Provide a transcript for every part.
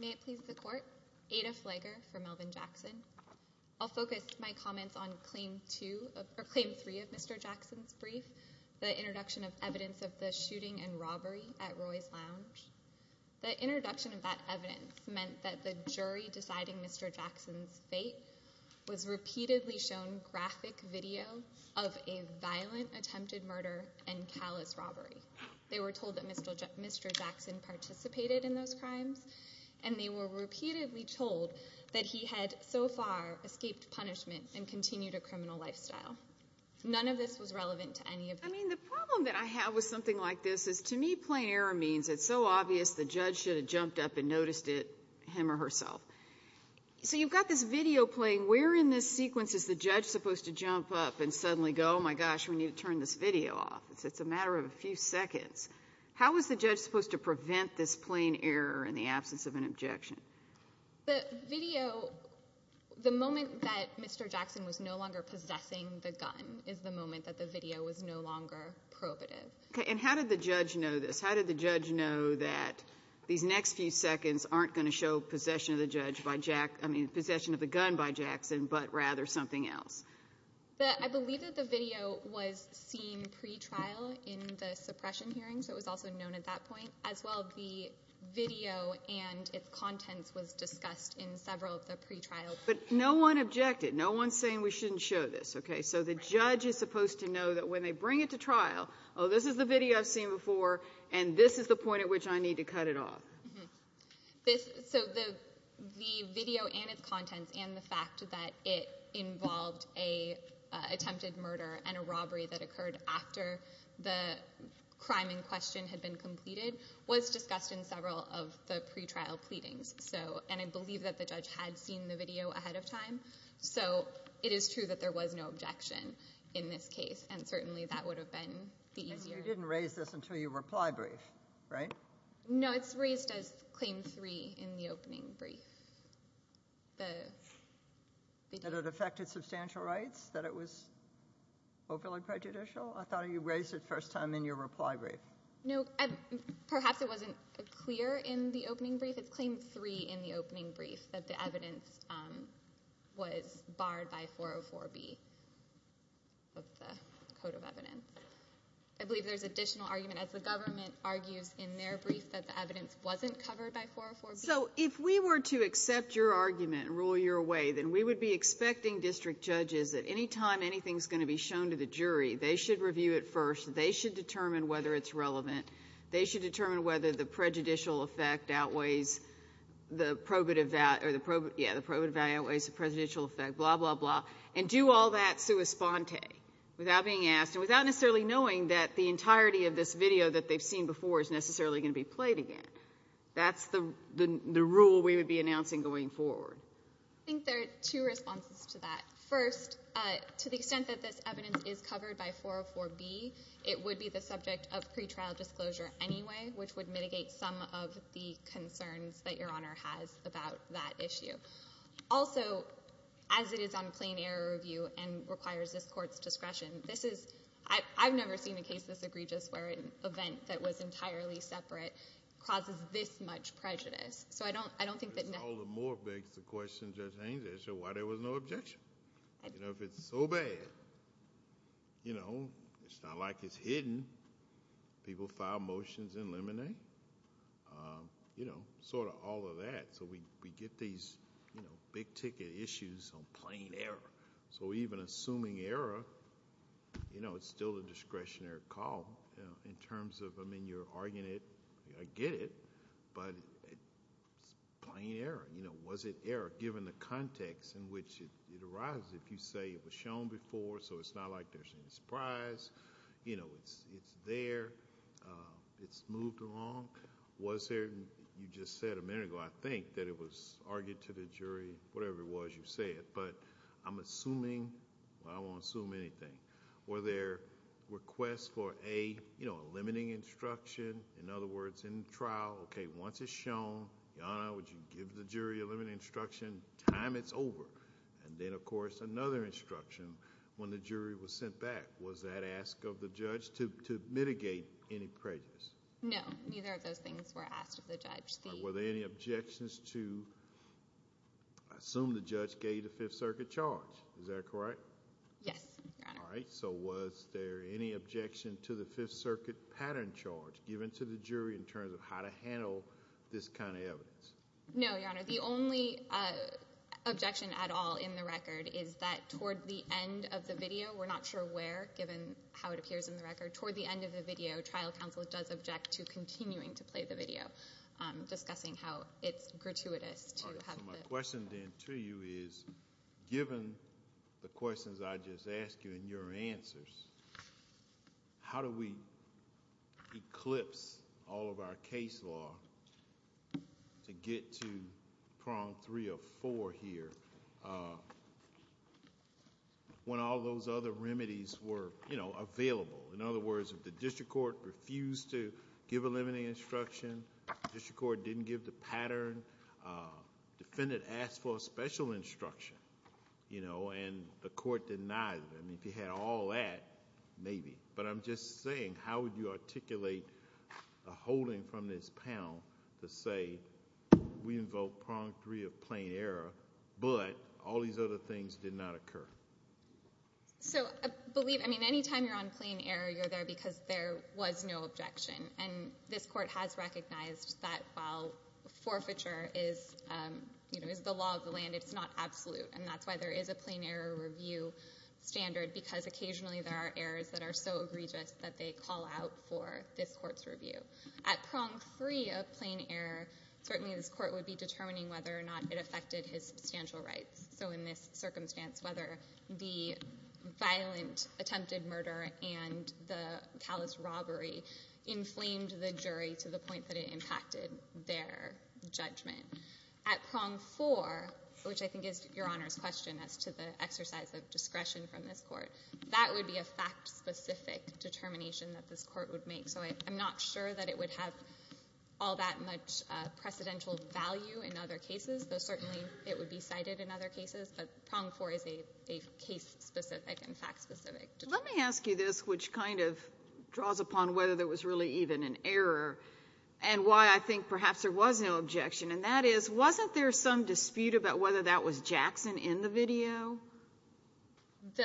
May it please the Court, Ada Fleger for Melvin Jackson. I'll focus my comments on Claim 2, or Claim 3 of Mr. Jackson's brief, the introduction of evidence of the shooting and robbery at Roy's Lounge. The introduction of that evidence meant that the jury deciding Mr. Jackson's fate was repeatedly shown graphic video of a violent attempted murder and callous robbery. They were told that Mr. Jackson participated in those crimes and they were repeatedly told that he had so far escaped punishment and continued a criminal lifestyle. None of this was relevant to any of them. I mean the problem that I have with something like this is to me plain error means it's so obvious the judge should have jumped up and noticed it, him or herself. So you've got this video playing. Where in this sequence is the judge supposed to jump up and suddenly go, oh my gosh, we need to turn this video off? It's a matter of a few seconds. How was the judge supposed to prevent this plain error in the absence of an objection? The video, the moment that Mr. Jackson was no longer possessing the gun is the moment that the video was no longer probative. Okay, and how did the judge know this? How did the judge know that these next few seconds aren't going to show possession of the gun by Jackson, but rather something else? I believe that the video was seen pre-trial in the suppression hearing, so it was also known at that point. As well, the video and its contents was discussed in several of the pre-trials. But no one objected. No one's saying we shouldn't show this. Okay, so the judge is supposed to know that when they bring it to trial, oh, this is the video I've seen before, and this is the point at which I need to cut it off. So the video and its contents and the fact that it involved an attempted murder and a robbery that occurred after the crime in question had been completed was discussed in several of the pre-trial pleadings. So, and I believe that the judge had seen the case, and certainly that would have been the easier... And you didn't raise this until your reply brief, right? No, it's raised as Claim 3 in the opening brief. That it affected substantial rights? That it was overly prejudicial? I thought you raised it first time in your reply brief. No, perhaps it wasn't clear in the opening brief. It's Claim 3 in the opening brief that the evidence was barred by 404B of the Code of Evidence. I believe there's additional argument as the government argues in their brief that the evidence wasn't covered by 404B. So if we were to accept your argument and rule your way, then we would be expecting district judges that any time anything's going to be shown to the jury, they should review it first. They should determine whether it's relevant. They should determine whether the probative value outweighs the prejudicial effect, blah, blah, blah, and do all that sua sponte, without being asked, and without necessarily knowing that the entirety of this video that they've seen before is necessarily going to be played again. That's the rule we would be announcing going forward. I think there are two responses to that. First, to the extent that this evidence is covered by 404B, it would be the subject of pre-trial disclosure anyway, which would mitigate some of the concerns that Your Honor has about that issue. Also, as it is on a plain error review and requires this Court's discretion, this is, I've never seen a case this egregious where an event that was entirely separate causes this much prejudice. So I don't think that- All the more begs the question, Judge Haines, as to why there was no objection. If it's so bad, you know, it's not like it's hidden. People file motions and eliminate. You know, sort of all of that. So we get these, you know, big ticket issues on plain error. So even assuming error, you know, it's still a discretionary call in terms of, I mean, you're arguing it, I get it, but it's plain error. You know, was it error given the context in which it arises? If you say it was shown before, so it's not like there's any surprise, you know, it's there, it's moved along. Was there, you just said a minute ago, I think that it was argued to the jury, whatever it was you said, but I'm assuming, well, I won't assume anything. Were there requests for a, you know, a limiting instruction? In other words, in the trial, okay, once it's shown, Your Honor, would you give the jury a limiting instruction? Time, it's over. And then, of course, another instruction when the jury was sent back, was that ask of the judge to mitigate any prejudice? No, neither of those things were asked of the judge. Were there any objections to assume the judge gave the Fifth Circuit charge? Is that correct? Yes, Your Honor. All right, so was there any objection to the Fifth Circuit pattern charge given to the jury in terms of how to handle this kind of evidence? No, Your Honor, the only objection at all in the record is that toward the end of the video, we're not sure where, given how it appears in the record, toward the end of the video, trial counsel does object to continuing to play the video, discussing how it's gratuitous to have the... All right, so my question then to you is, given the questions I just asked you and your answers, how do we eclipse all of our case law to get to prong three of four here, when all those other remedies were available? In other words, if the district court refused to give a limiting instruction, district court didn't give the pattern, defendant asked for a special instruction, and the court denied them, if you had all that, maybe. But I'm just saying, how would you articulate a holding from this panel to say, we invoke prong three of plain error, but all these other things did not occur? So, I believe, I mean, any time you're on plain error, you're there because there was no objection, and this court has recognized that while forfeiture is, you know, is the law of the land, it's not absolute, and that's why there is a plain error review standard, because occasionally there are errors that are so egregious that they call out for this court's review. At prong three of plain error, certainly this court would be determining whether or not it affected his substantial rights. So in this circumstance, whether the violent attempted murder and the callous robbery inflamed the jury to the point that it impacted their judgment. At prong four, which I think is your Honor's question as to the exercise of discretion from this court, that would be a fact-specific determination that this court, I'm not sure that it would have all that much precedential value in other cases, though certainly it would be cited in other cases, but prong four is a case-specific and fact-specific determination. Let me ask you this, which kind of draws upon whether there was really even an error, and why I think perhaps there was no objection, and that is, wasn't there some dispute about whether that was Jackson in the video? The,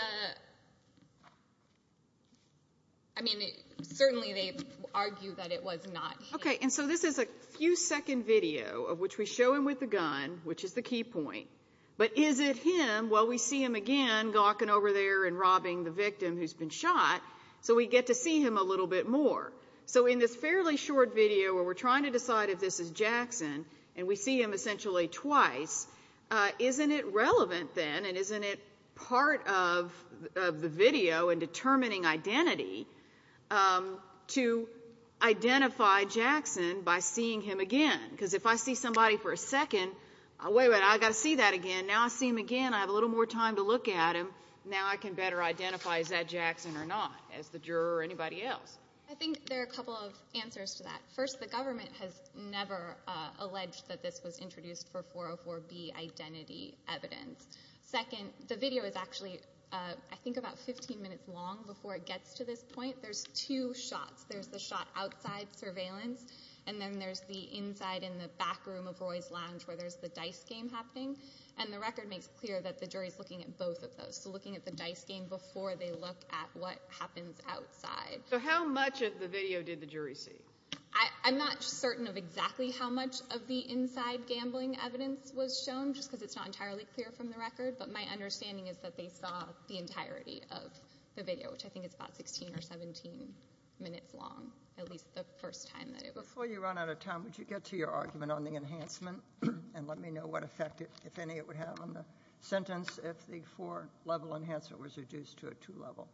I mean, certainly they argue that it was not him. Okay, and so this is a few-second video of which we show him with the gun, which is the key point, but is it him? Well, we see him again gawking over there and robbing the victim who's been shot, so we get to see him a little bit more. So in this fairly short video where we're trying to decide if this is Jackson, and we see him essentially twice, isn't it part of the video in determining identity to identify Jackson by seeing him again? Because if I see somebody for a second, wait a minute, I've got to see that again, now I see him again, I have a little more time to look at him, now I can better identify is that Jackson or not, as the juror or anybody else. I think there are a couple of answers to that. First, the government has never alleged that this was introduced for 404B identity evidence. Second, the video is actually, I think, about 15 minutes long before it gets to this point. There's two shots. There's the shot outside surveillance, and then there's the inside in the back room of Roy's Lounge where there's the dice game happening, and the record makes clear that the jury's looking at both of those, so looking at the dice game before they look at what happens outside. So how much of the video did the jury see? I'm not certain of exactly how much of the inside gambling evidence was shown, just because it's not entirely clear from the record, but my understanding is that they saw the entirety of the video, which I think is about 16 or 17 minutes long, at least the first time that it was shown. Before you run out of time, would you get to your argument on the enhancement and let me know what effect, if any, it would have on the sentence if the four-level enhancement was reduced to a two-level?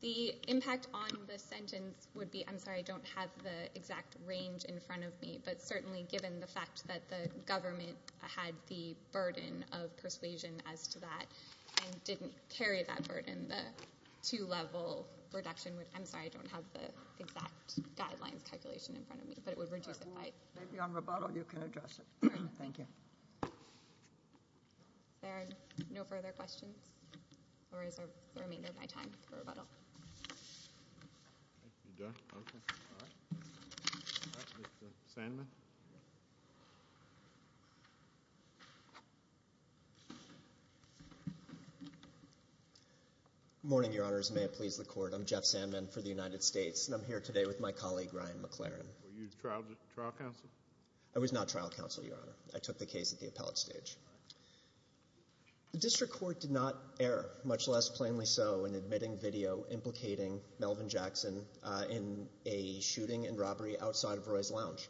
The impact on the sentence would be, I'm sorry, I don't have the exact range in front of me, but certainly given the fact that the government had the burden of persuasion as to that and didn't carry that burden, the two-level reduction would, I'm sorry, I don't have the exact guidelines calculation in front of me, but it would reduce it by... Maybe on rebuttal, you can address it. Thank you. Is there no further questions, or is there a remainder of my time for rebuttal? You're done? Okay. All right. All right, Mr. Sandman? Good morning, Your Honors. May it please the Court, I'm Jeff Sandman for the United States, and I'm here today with my colleague, Ryan McLaren. Were you trial counsel? I was not trial counsel, Your Honor. I took the case at the appellate stage. The District Court did not err, much less plainly so in admitting video implicating Melvin Jackson in a shooting and robbery outside of Roy's Lounge.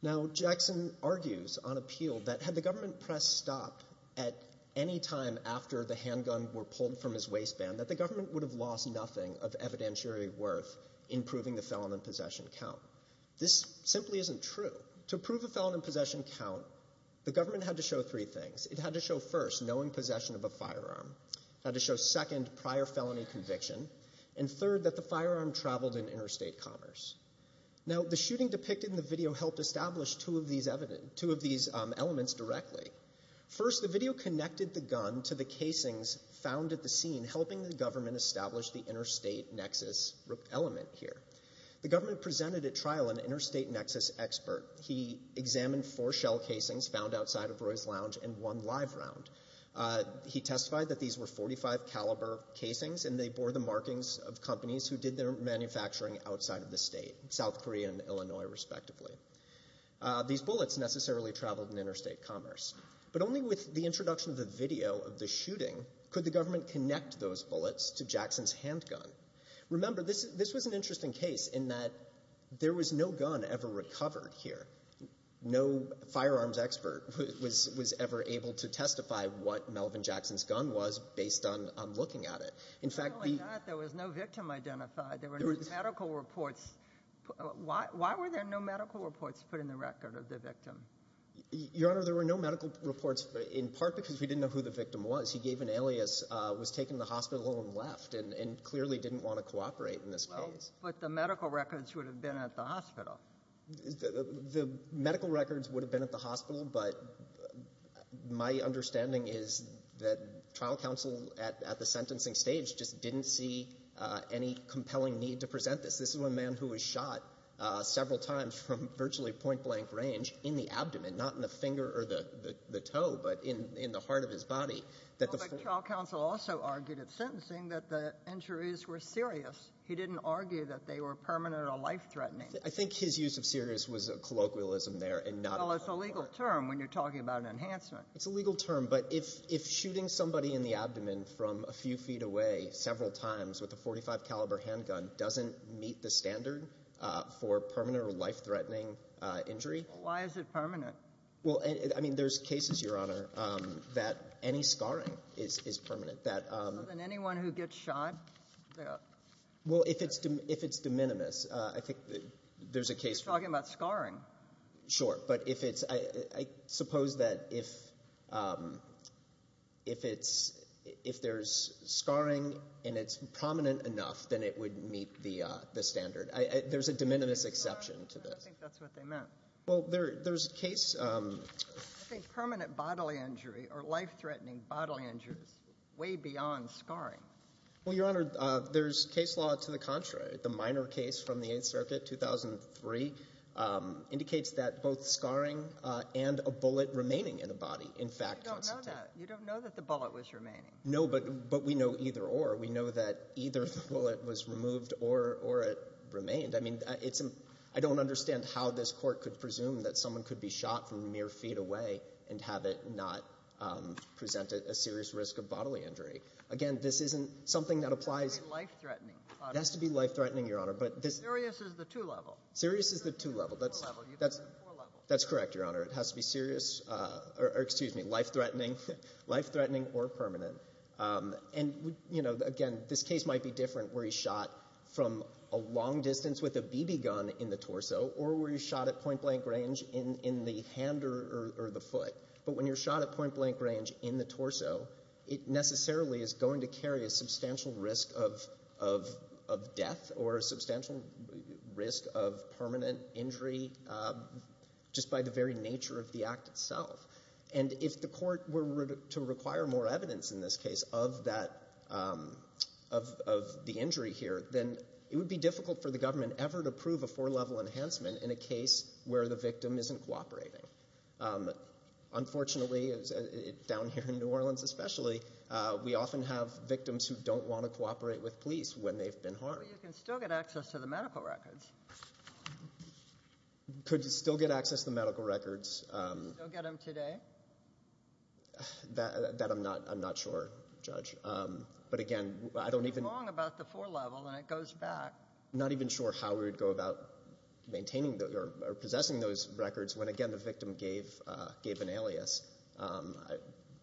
Now, Jackson argues on appeal that had the government pressed stop at any time after the handgun were pulled from his waistband, that the government would have lost nothing of evidentiary worth in proving the felon in possession count. This simply isn't true. To prove the felon in possession count, the government had to show three things. It had to show first, knowing possession of a firearm. It had to show second, prior felony conviction. And third, that the firearm traveled in interstate commerce. Now, the shooting depicted in the video helped establish two of these elements directly. First, the video connected the gun to the casings found at the scene, helping the government establish the interstate nexus element here. The government presented at trial an interstate nexus expert. He examined four shell casings found outside of Roy's Lounge and one live round. He testified that these were .45 caliber casings, and they bore the markings of companies who did their manufacturing outside of the state, South Korea and Illinois, respectively. These bullets necessarily traveled in interstate commerce. But only with the introduction of the video of the shooting could the government connect those bullets to Jackson's handgun. Remember, this was an interesting case in that there was no gun ever recovered here. No firearms expert was ever able to testify what Melvin Jackson's gun was based on looking at it. In fact, the — Not only that, there was no victim identified. There were no medical reports. Why were there no medical reports put in the record of the victim? Your Honor, there were no medical reports, in part because we didn't know who the victim was. was taken to the hospital and left and clearly didn't want to cooperate in this case. Well, but the medical records would have been at the hospital. The medical records would have been at the hospital, but my understanding is that trial counsel at the sentencing stage just didn't see any compelling need to present this. This is one man who was shot several times from virtually point-blank range in the abdomen, not in the finger or the toe, but in the heart of his body. Well, but trial counsel also argued at sentencing that the injuries were serious. He didn't argue that they were permanent or life-threatening. I think his use of serious was a colloquialism there and not a — Well, it's a legal term when you're talking about enhancement. It's a legal term, but if shooting somebody in the abdomen from a few feet away several times with a .45-caliber handgun doesn't meet the standard for permanent or life-threatening injury — Well, why is it permanent? Well, I mean, there's cases, Your Honor, that any scarring is permanent. So then anyone who gets shot — Well, if it's de minimis, I think there's a case — You're talking about scarring. Sure. But if it's — I suppose that if it's — if there's scarring and it's prominent enough, then it would meet the standard. There's a de minimis exception to this. I think that's what they meant. Well, there's a case — I think permanent bodily injury or life-threatening bodily injury is way beyond scarring. Well, Your Honor, there's case law to the contrary. The minor case from the Eighth Circuit, 2003, indicates that both scarring and a bullet remaining in a body, in fact, constitute — You don't know that. You don't know that the bullet was remaining. No, but we know either or. We know that either the bullet was removed or it remained. I mean, it's — I don't understand how this Court could presume that someone could be shot from mere feet away and have it not present a serious risk of bodily injury. Again, this isn't something that applies — It has to be life-threatening. It has to be life-threatening, Your Honor, but this — Serious is the two-level. Serious is the two-level. That's — Four-level. That's correct, Your Honor. It has to be serious — or, excuse me, life-threatening — life-threatening or permanent. And, you know, again, this case might be different where he's shot from a long distance with a BB gun in the torso or where he's shot at point-blank range in the hand or the foot. But when you're shot at point-blank range in the torso, it necessarily is going to carry a substantial risk of death or a substantial risk of permanent injury just by the very nature of the act itself. And if the court were to require more evidence in this case of that — of the injury here, then it would be difficult for the government ever to prove a four-level enhancement in a case where the victim isn't cooperating. Unfortunately, down here in New Orleans especially, we often have victims who don't want to cooperate with police when they've been harmed. But you can still get access to the medical records. Could still get access to the medical records. Could still get them today? That I'm not — I'm not sure, Judge. But, again, I don't even — You're wrong about the four-level, and it goes back. I'm not even sure how we would go about maintaining or possessing those records when, again, the victim gave an alias.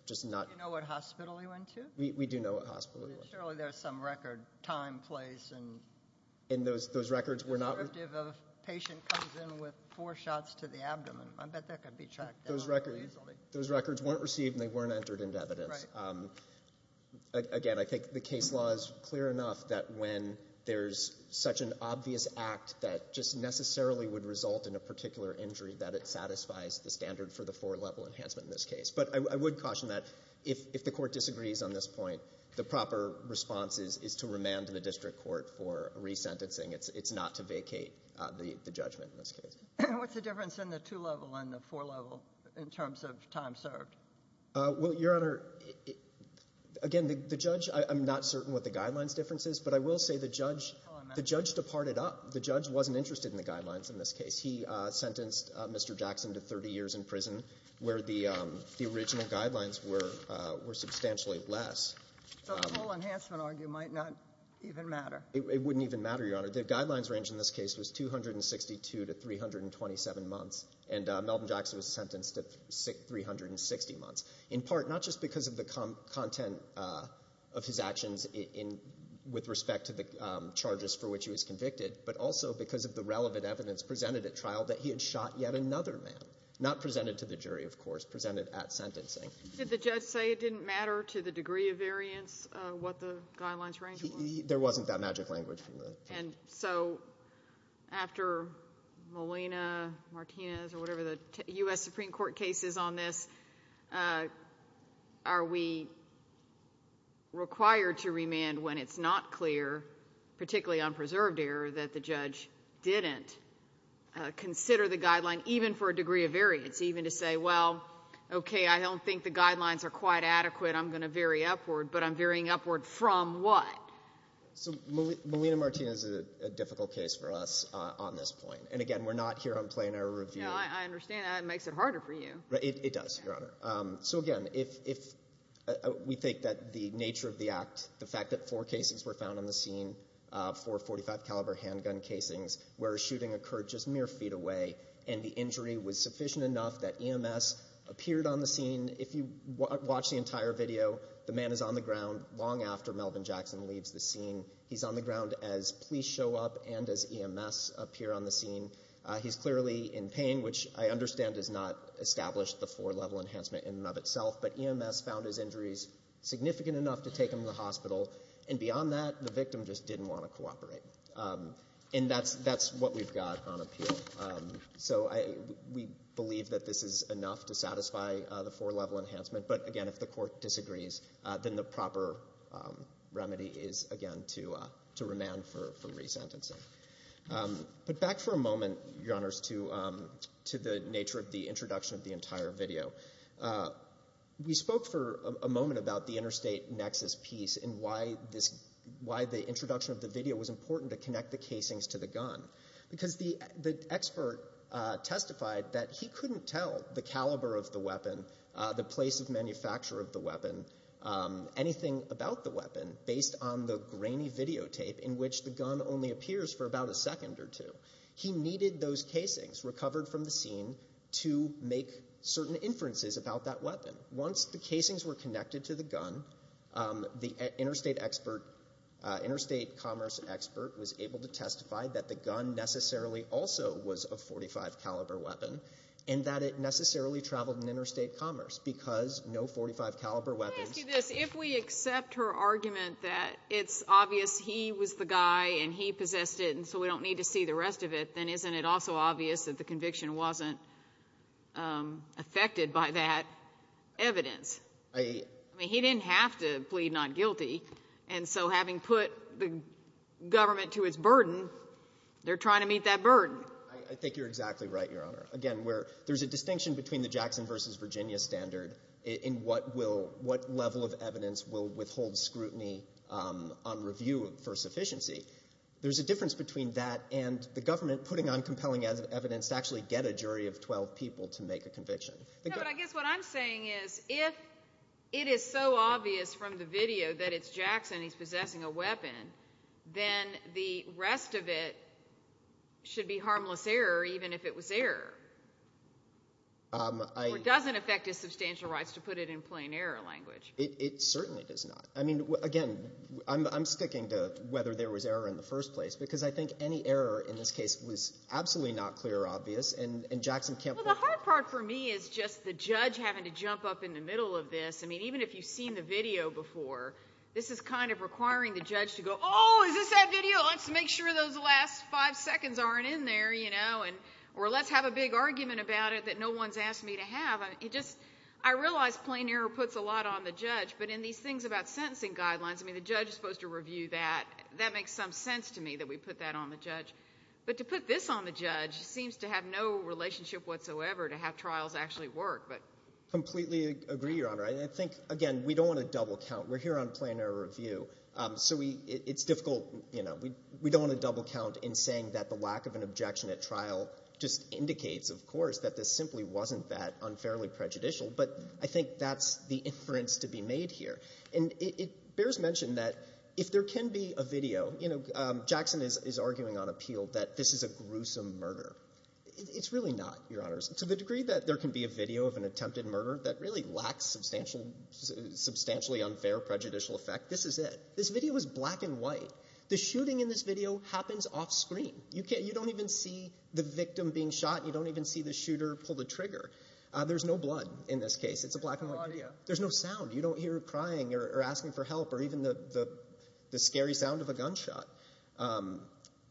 Just not — Do you know what hospital he went to? We do know what hospital he went to. Surely there's some record time, place, and — And those records were not — If a patient comes in with four shots to the abdomen, I bet that could be tracked down easily. Those records weren't received, and they weren't entered into evidence. Right. Again, I think the case law is clear enough that when there's such an obvious act that just necessarily would result in a particular injury, that it satisfies the standard for the four-level enhancement in this case. But I would caution that if the court disagrees on this point, the proper response is to remand to the district court for resentencing. It's not to vacate the judgment in this case. What's the difference in the two-level and the four-level in terms of time served? Well, Your Honor, again, the judge — I'm not certain what the guidelines difference is, but I will say the judge — Oh, I'm sorry. The judge departed up. The judge wasn't interested in the guidelines in this case. He sentenced Mr. Jackson to 30 years in prison where the original guidelines were substantially less. So a full enhancement argument might not even matter. It wouldn't even matter, Your Honor. The guidelines range in this case was 262 to 327 months, and Melvin Jackson was sentenced to 360 months, in part not just because of the content of his actions in — with respect to the charges for which he was convicted, but also because of the relevant evidence presented at trial that he had shot yet another man. Not presented to the jury, of course. Presented at sentencing. Did the judge say it didn't matter to the degree of variance what the guidelines range was? There wasn't that magic language. And so after Molina, Martinez, or whatever the U.S. Supreme Court case is on this, are we required to remand when it's not clear, particularly on preserved error, that the judge didn't consider the guideline even for a degree of variance, even to say, well, okay, I don't think the guidelines are quite adequate. I'm going to vary upward, but I'm varying upward from what? So Molina, Martinez is a difficult case for us on this point. And, again, we're not here on plain error review. No, I understand. That makes it harder for you. It does, Your Honor. So, again, if we think that the nature of the act, the fact that four casings were found on the scene, four .45 caliber handgun casings, where a shooting occurred just mere feet away and the injury was sufficient enough that EMS appeared on the scene, if you watch the entire video, the man is on the ground long after Melvin Jackson leaves the scene. He's on the ground as police show up and as EMS appear on the scene. He's clearly in pain, which I understand does not establish the four-level enhancement in and of itself. But EMS found his injuries significant enough to take him to the hospital. And beyond that, the victim just didn't want to cooperate. And that's what we've got on appeal. So we believe that this is enough to satisfy the four-level enhancement. But, again, if the Court disagrees, then the proper remedy is, again, to remand for resentencing. But back for a moment, Your Honors, to the nature of the introduction of the entire video. We spoke for a moment about the interstate nexus piece and why the introduction of the video was important to connect the casings to the gun. Because the expert testified that he couldn't tell the caliber of the weapon, the place of manufacture of the weapon, anything about the weapon based on the grainy videotape in which the gun only appears for about a second or two. He needed those casings recovered from the scene to make certain inferences about that weapon. Once the casings were connected to the gun, the interstate commerce expert was able to testify that the gun necessarily also was a .45 caliber weapon and that it necessarily traveled in interstate commerce because no .45 caliber weapon. Let me ask you this. If we accept her argument that it's obvious he was the guy and he possessed it and so we don't need to see the rest of it, then isn't it also obvious that the conviction wasn't affected by that evidence? I mean, he didn't have to plead not guilty. And so having put the government to its burden, they're trying to meet that burden. I think you're exactly right, Your Honor. Again, there's a distinction between the Jackson versus Virginia standard in what level of evidence will withhold scrutiny on review for sufficiency. There's a difference between that and the government putting on compelling evidence to actually get a jury of 12 people to make a conviction. No, but I guess what I'm saying is if it is so obvious from the video that it's Jackson, he's possessing a weapon, then the rest of it should be harmless error even if it was error. It doesn't affect his substantial rights to put it in plain error language. It certainly does not. I mean, again, I'm sticking to whether there was error in the first place because I think any error in this case was absolutely not clear or obvious, and Jackson can't – Well, the hard part for me is just the judge having to jump up in the middle of this. I mean, even if you've seen the video before, this is kind of requiring the judge to go, oh, is this that video? Well, let's make sure those last five seconds aren't in there, you know, or let's have a big argument about it that no one's asked me to have. It just – I realize plain error puts a lot on the judge, but in these things about sentencing guidelines, I mean, the judge is supposed to review that. That makes some sense to me that we put that on the judge. But to put this on the judge seems to have no relationship whatsoever to how trials actually work. I completely agree, Your Honor. I think, again, we don't want to double count. We're here on plain error review. So we – it's difficult – you know, we don't want to double count in saying that the lack of an objection at trial just indicates, of course, that this simply wasn't that unfairly prejudicial. But I think that's the inference to be made here. And it bears mention that if there can be a video – you know, Jackson is arguing on appeal that this is a gruesome murder. It's really not, Your Honors. To the degree that there can be a video of an attempted murder that really lacks substantially unfair prejudicial effect, this is it. This video is black and white. The shooting in this video happens off screen. You don't even see the victim being shot. You don't even see the shooter pull the trigger. There's no blood in this case. It's a black and white video. There's no sound. You don't hear crying or asking for help or even the scary sound of a gunshot.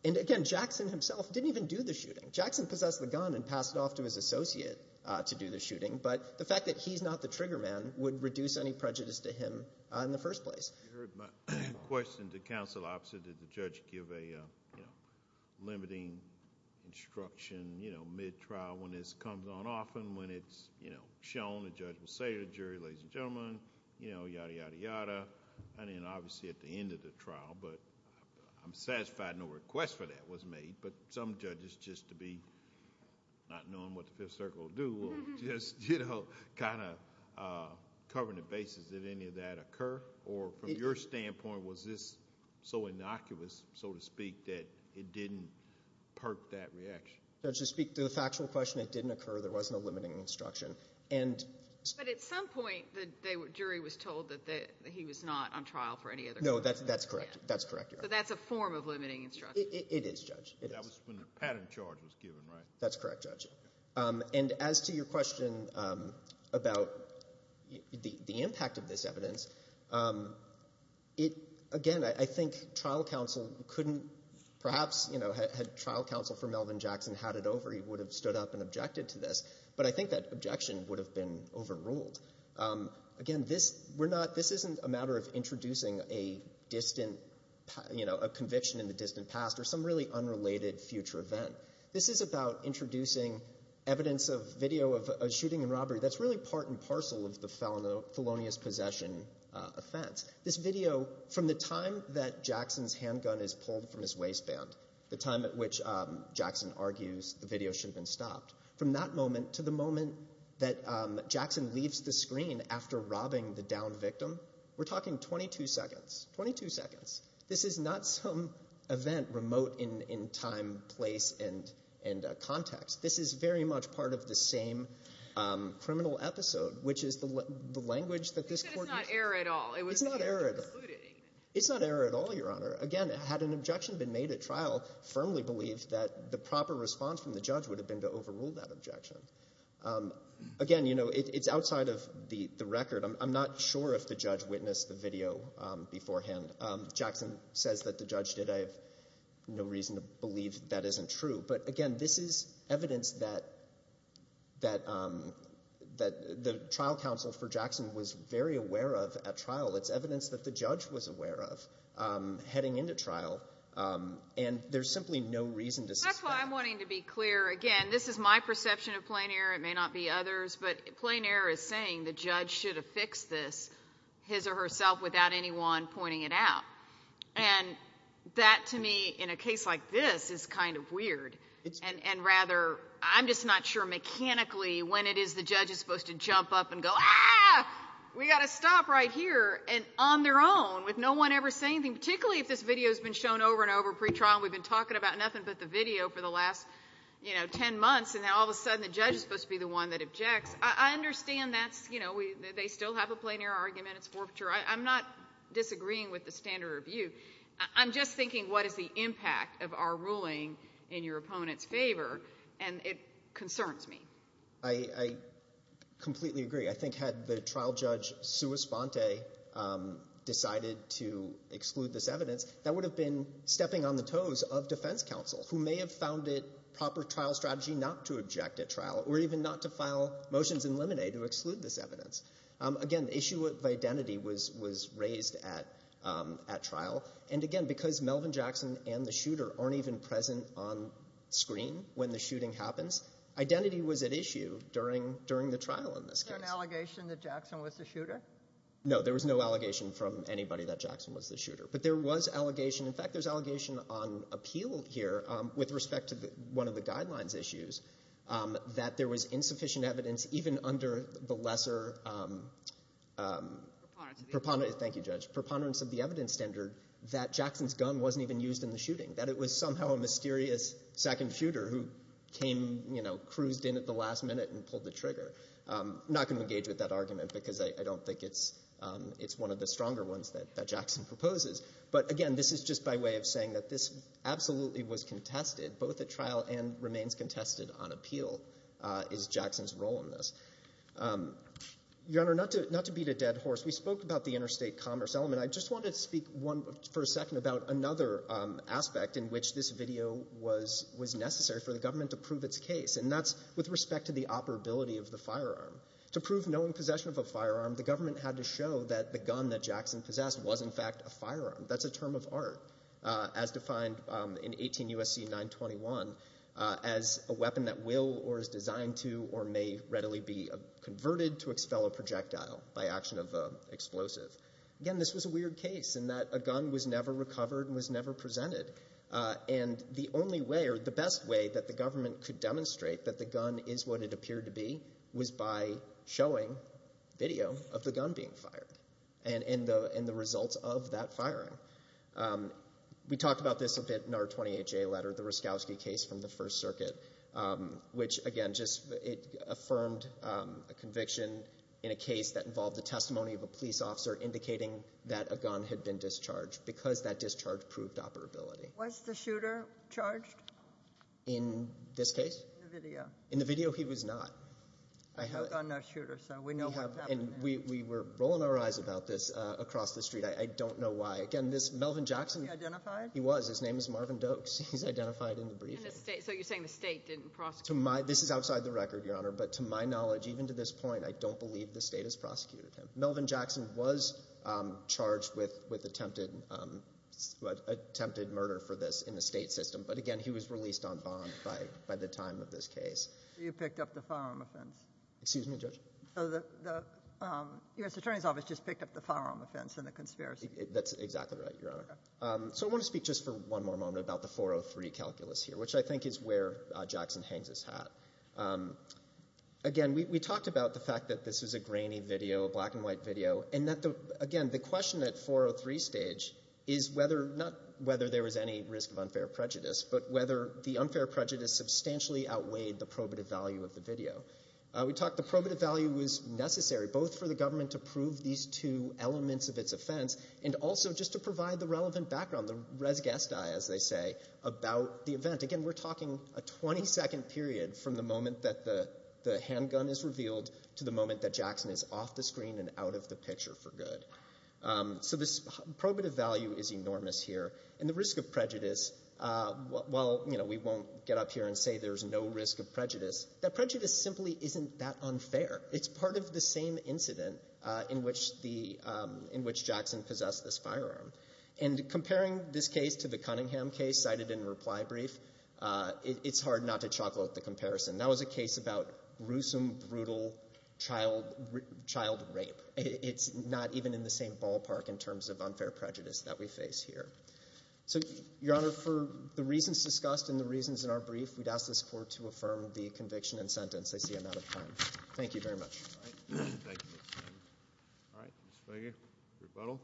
And, again, Jackson himself didn't even do the shooting. Jackson possessed the gun and passed it off to his associate to do the shooting. But the fact that he's not the trigger man would reduce any prejudice to him in the first place. You heard my question to counsel opposite. Did the judge give a limiting instruction, you know, mid-trial when this comes on often when it's, you know, shown the judge will say to the jury, ladies and gentlemen, you know, yada, yada, yada. I mean, obviously at the end of the trial, but I'm satisfied no request for that was made. But some judges, just to be not knowing what the Fifth Circle will do, will just, you know, kind of cover the bases if any of that occur. Or from your standpoint, was this so innocuous, so to speak, that it didn't perk that reaction? Judge, to speak to the factual question, it didn't occur. There wasn't a limiting instruction. But at some point the jury was told that he was not on trial for any other crime. No, that's correct. That's correct, Your Honor. So that's a form of limiting instruction. It is, Judge. That was when the patent charge was given, right? That's correct, Judge. And as to your question about the impact of this evidence, again, I think trial counsel couldn't perhaps, you know, had trial counsel for Melvin Jackson had it over, he would have stood up and objected to this. But I think that objection would have been overruled. Again, this isn't a matter of introducing a distant, you know, a conviction in the distant past or some really unrelated future event. This is about introducing evidence of video of a shooting and robbery that's really part and parcel of the felonious possession offense. This video, from the time that Jackson's handgun is pulled from his waistband, the time at which Jackson argues the video should have been stopped, from that moment to the moment that Jackson leaves the screen after robbing the downed victim, we're talking 22 seconds, 22 seconds. This is not some event remote in time, place, and context. This is very much part of the same criminal episode, which is the language that this court used. You said it's not error at all. It's not error at all. It's not error at all, Your Honor. Again, had an objection been made at trial, firmly believed that the proper response from the judge would have been to overrule that objection. Again, you know, it's outside of the record. I'm not sure if the judge witnessed the video beforehand. Jackson says that the judge did. I have no reason to believe that isn't true. But, again, this is evidence that the trial counsel for Jackson was very aware of at trial. It's evidence that the judge was aware of heading into trial, and there's simply no reason to suspect. That's why I'm wanting to be clear. Again, this is my perception of plain error. It may not be others. But plain error is saying the judge should have fixed this, his or herself, without anyone pointing it out. And that, to me, in a case like this, is kind of weird. And, rather, I'm just not sure mechanically when it is the judge is supposed to jump up and go, ah, we've got to stop right here, and on their own, with no one ever saying anything, particularly if this video has been shown over and over pretrial and we've been talking about nothing but the video for the last, you know, 10 months, and now all of a sudden the judge is supposed to be the one that objects. I understand that's, you know, they still have a plain error argument. It's forfeiture. I'm not disagreeing with the standard review. I'm just thinking what is the impact of our ruling in your opponent's favor, and it concerns me. I completely agree. I think had the trial judge sua sponte decided to exclude this evidence, that would have been stepping on the toes of defense counsel, who may have found it proper trial strategy not to object at trial or even not to file motions in limine to exclude this evidence. Again, the issue of identity was raised at trial. And, again, because Melvin Jackson and the shooter aren't even present on screen when the shooting happens, identity was at issue during the trial in this case. Was there an allegation that Jackson was the shooter? No, there was no allegation from anybody that Jackson was the shooter. But there was allegation, in fact, there's allegation on appeal here with respect to one of the guidelines issues that there was insufficient evidence even under the lesser preponderance of the evidence standard that Jackson's gun wasn't even used in the shooting, that it was somehow a mysterious second shooter who came, you know, cruised in at the last minute and pulled the trigger. I'm not going to engage with that argument because I don't think it's one of the stronger ones that Jackson proposes. But, again, this is just by way of saying that this absolutely was contested both at trial and remains contested on appeal is Jackson's role in this. Your Honor, not to beat a dead horse, we spoke about the interstate commerce element. I just wanted to speak for a second about another aspect in which this video was necessary for the government to prove its case, and that's with respect to the operability of the firearm. To prove knowing possession of a firearm, the government had to show that the gun that Jackson possessed was, in fact, a firearm. That's a term of art as defined in 18 U.S.C. 921 as a weapon that will or is designed to or may readily be converted to expel a projectile by action of an explosive. Again, this was a weird case in that a gun was never recovered and was never presented. The only way or the best way that the government could demonstrate that the gun is what it appeared to be was by showing video of the gun being fired and the results of that firing. We talked about this a bit in our 28-J letter, the Roszkowski case from the First Circuit, which, again, just affirmed a conviction in a case that involved the testimony of a police officer indicating that a gun had been discharged because that discharge proved operability. Was the shooter charged? In this case? In the video. In the video, he was not. No gun, no shooter, so we know what happened there. And we were rolling our eyes about this across the street. I don't know why. Again, this Melvin Jackson— Was he identified? He was. His name is Marvin Doakes. He's identified in the briefing. So you're saying the State didn't prosecute him? This is outside the record, Your Honor, but to my knowledge, even to this point, I don't believe the State has prosecuted him. Melvin Jackson was charged with attempted murder for this in the State system, but, again, he was released on bond by the time of this case. So you picked up the firearm offense? Excuse me, Judge? So the U.S. Attorney's Office just picked up the firearm offense in the conspiracy? That's exactly right, Your Honor. So I want to speak just for one more moment about the 403 calculus here, which I think is where Jackson hangs his hat. Again, we talked about the fact that this was a grainy video, a black-and-white video, and that, again, the question at 403 stage is not whether there was any risk of unfair prejudice, but whether the unfair prejudice substantially outweighed the probative value of the video. We talked the probative value was necessary both for the government to prove these two elements of its offense and also just to provide the relevant background, the res gestae, as they say, about the event. Again, we're talking a 20-second period from the moment that the handgun is revealed to the moment that Jackson is off the screen and out of the picture for good. So this probative value is enormous here. And the risk of prejudice, while we won't get up here and say there's no risk of prejudice, that prejudice simply isn't that unfair. It's part of the same incident in which Jackson possessed this firearm. And comparing this case to the Cunningham case cited in reply brief, it's hard not to chocolate the comparison. That was a case about gruesome, brutal child rape. It's not even in the same ballpark in terms of unfair prejudice that we face here. So, Your Honor, for the reasons discussed and the reasons in our brief, we'd ask this Court to affirm the conviction and sentence. I see I'm out of time. Thank you very much. Thank you, Mr. Chairman. All right, Ms. Feger, rebuttal.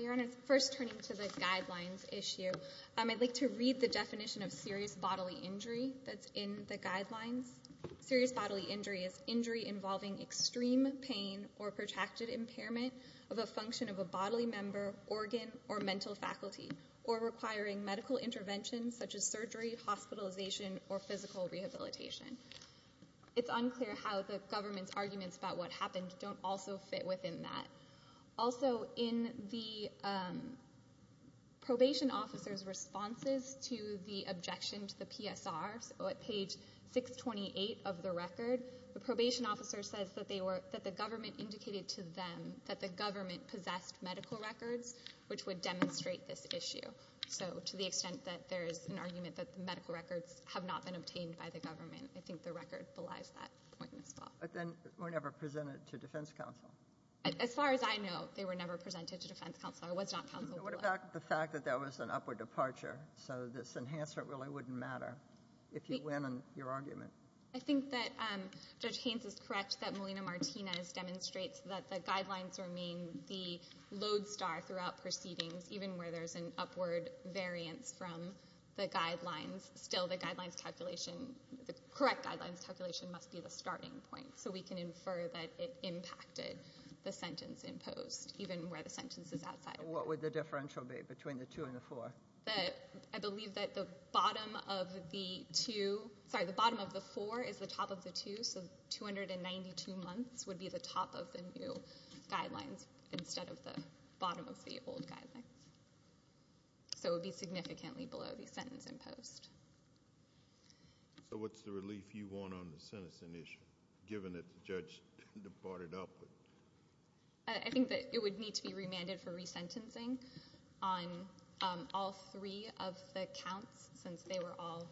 Your Honor, first turning to the guidelines issue, I'd like to read the definition of serious bodily injury that's in the guidelines. Serious bodily injury is injury involving extreme pain or protracted impairment of a function of a bodily member, organ, or mental faculty, or requiring medical intervention such as surgery, hospitalization, or physical rehabilitation. It's unclear how the government's arguments about what happened don't also fit within that. Also, in the probation officer's responses to the objection to the PSR, so at page 628 of the record, the probation officer says that the government indicated to them that the government possessed medical records, which would demonstrate this issue. So to the extent that there is an argument that the medical records have not been obtained by the government, I think the record belies that point as well. But then were never presented to defense counsel. As far as I know, they were never presented to defense counsel or was not counseled. What about the fact that there was an upward departure, so this enhancement really wouldn't matter if you win on your argument? I think that Judge Haynes is correct that Molina-Martinez demonstrates that the guidelines remain the lodestar throughout proceedings, even where there's an upward variance from the guidelines. Still, the correct guidelines calculation must be the starting point, so we can infer that it impacted the sentence imposed, even where the sentence is outside. What would the differential be between the two and the four? I believe that the bottom of the four is the top of the two, so 292 months would be the top of the new guidelines instead of the bottom of the old guidelines. So it would be significantly below the sentence imposed. So what's the relief you want on the sentencing issue, given that the judge departed upward? I think that it would need to be remanded for resentencing on all three of the counts, since they were all—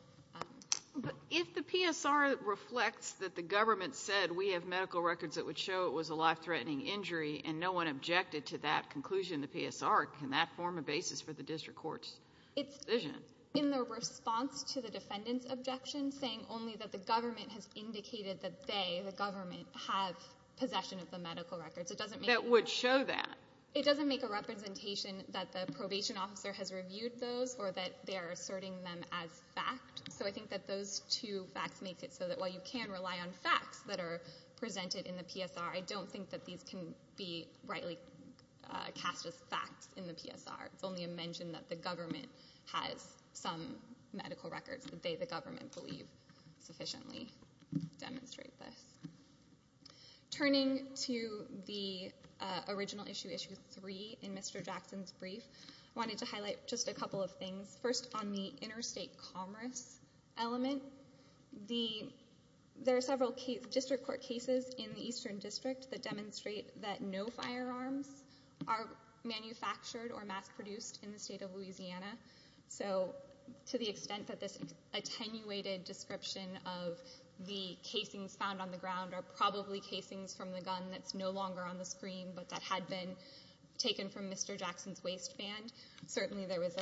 But if the PSR reflects that the government said, we have medical records that would show it was a life-threatening injury and no one objected to that conclusion in the PSR, can that form a basis for the district court's decision? In their response to the defendant's objection, saying only that the government has indicated that they, the government, have possession of the medical records, it doesn't make— That would show that. It doesn't make a representation that the probation officer has reviewed those or that they are asserting them as fact. So I think that those two facts make it so that while you can rely on facts that are presented in the PSR, I don't think that these can be rightly cast as facts in the PSR. It's only a mention that the government has some medical records that they, the government, believe sufficiently demonstrate this. Turning to the original issue, Issue 3 in Mr. Jackson's brief, I wanted to highlight just a couple of things. First, on the interstate commerce element, there are several district court cases in the Eastern District that demonstrate that no firearms are manufactured or mass-produced in the state of Louisiana. So to the extent that this attenuated description of the casings found on the ground are probably casings from the gun that's no longer on the screen but that had been taken from Mr. Jackson's waistband, certainly there was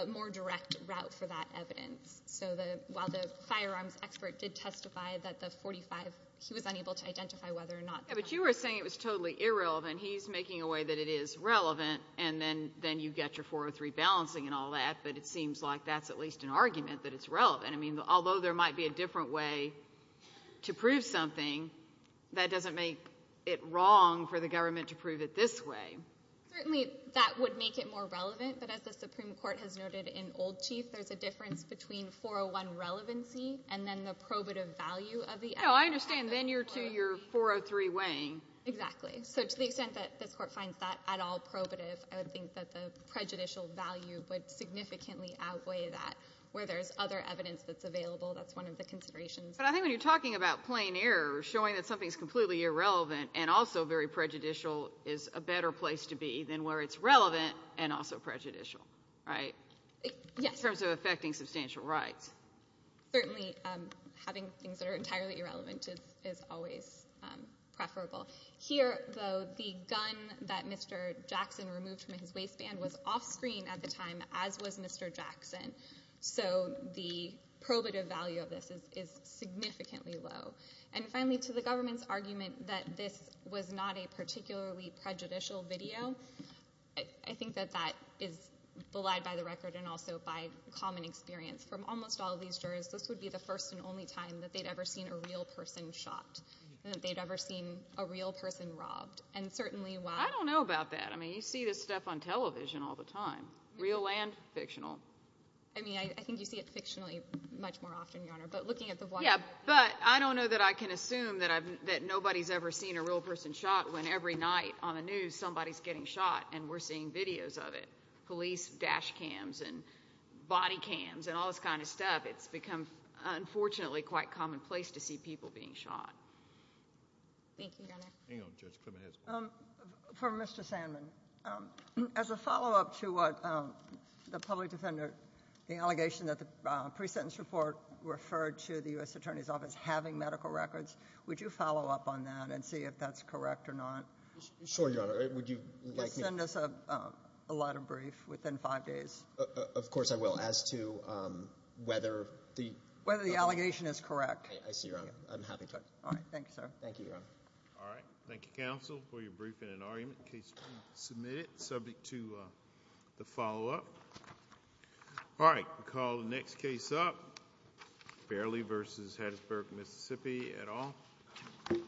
a more direct route for that evidence. So while the firearms expert did testify that the .45, he was unable to identify whether or not— But you were saying it was totally irrelevant. He's making a way that it is relevant and then you get your .403 balancing and all that, but it seems like that's at least an argument that it's relevant. I mean, although there might be a different way to prove something, that doesn't make it wrong for the government to prove it this way. Certainly that would make it more relevant, but as the Supreme Court has noted in Old Chief, there's a difference between .401 relevancy and then the probative value of the— No, I understand. Then you're to your .403 weighing. Exactly. So to the extent that this Court finds that at all probative, I would think that the prejudicial value would significantly outweigh that. Where there's other evidence that's available, that's one of the considerations. But I think when you're talking about plain error, showing that something's completely irrelevant and also very prejudicial is a better place to be than where it's relevant and also prejudicial, right? Yes. In terms of affecting substantial rights. Certainly having things that are entirely irrelevant is always preferable. Here, though, the gun that Mr. Jackson removed from his waistband was offscreen at the time, as was Mr. Jackson, so the probative value of this is significantly low. And finally, to the government's argument that this was not a particularly prejudicial video, I think that that is belied by the record and also by common experience. From almost all of these jurors, this would be the first and only time that they'd ever seen a real person shot and that they'd ever seen a real person robbed. And certainly while— I don't know about that. I mean, you see this stuff on television all the time, real and fictional. I mean, I think you see it fictionally much more often, Your Honor. But looking at the— Yeah, but I don't know that I can assume that nobody's ever seen a real person shot when every night on the news somebody's getting shot and we're seeing videos of it. Police dash cams and body cams and all this kind of stuff, it's become, unfortunately, quite commonplace to see people being shot. Thank you, Your Honor. Hang on, Judge. For Mr. Sandman, as a follow-up to what the public defender— the allegation that the pre-sentence report referred to the U.S. Attorney's Office having medical records, would you follow up on that and see if that's correct or not? Sure, Your Honor. Would you like me— Could you send us a letter brief within five days? Of course I will. As to whether the— Whether the allegation is correct. I see, Your Honor. I'm happy to. All right. Thank you, sir. Thank you, Your Honor. All right. Thank you, counsel, for your briefing and argument. In case you want to submit it, subject to the follow-up. All right. We'll call the next case up. Fairley v. Hattiesburg, Mississippi, et al. Thank you.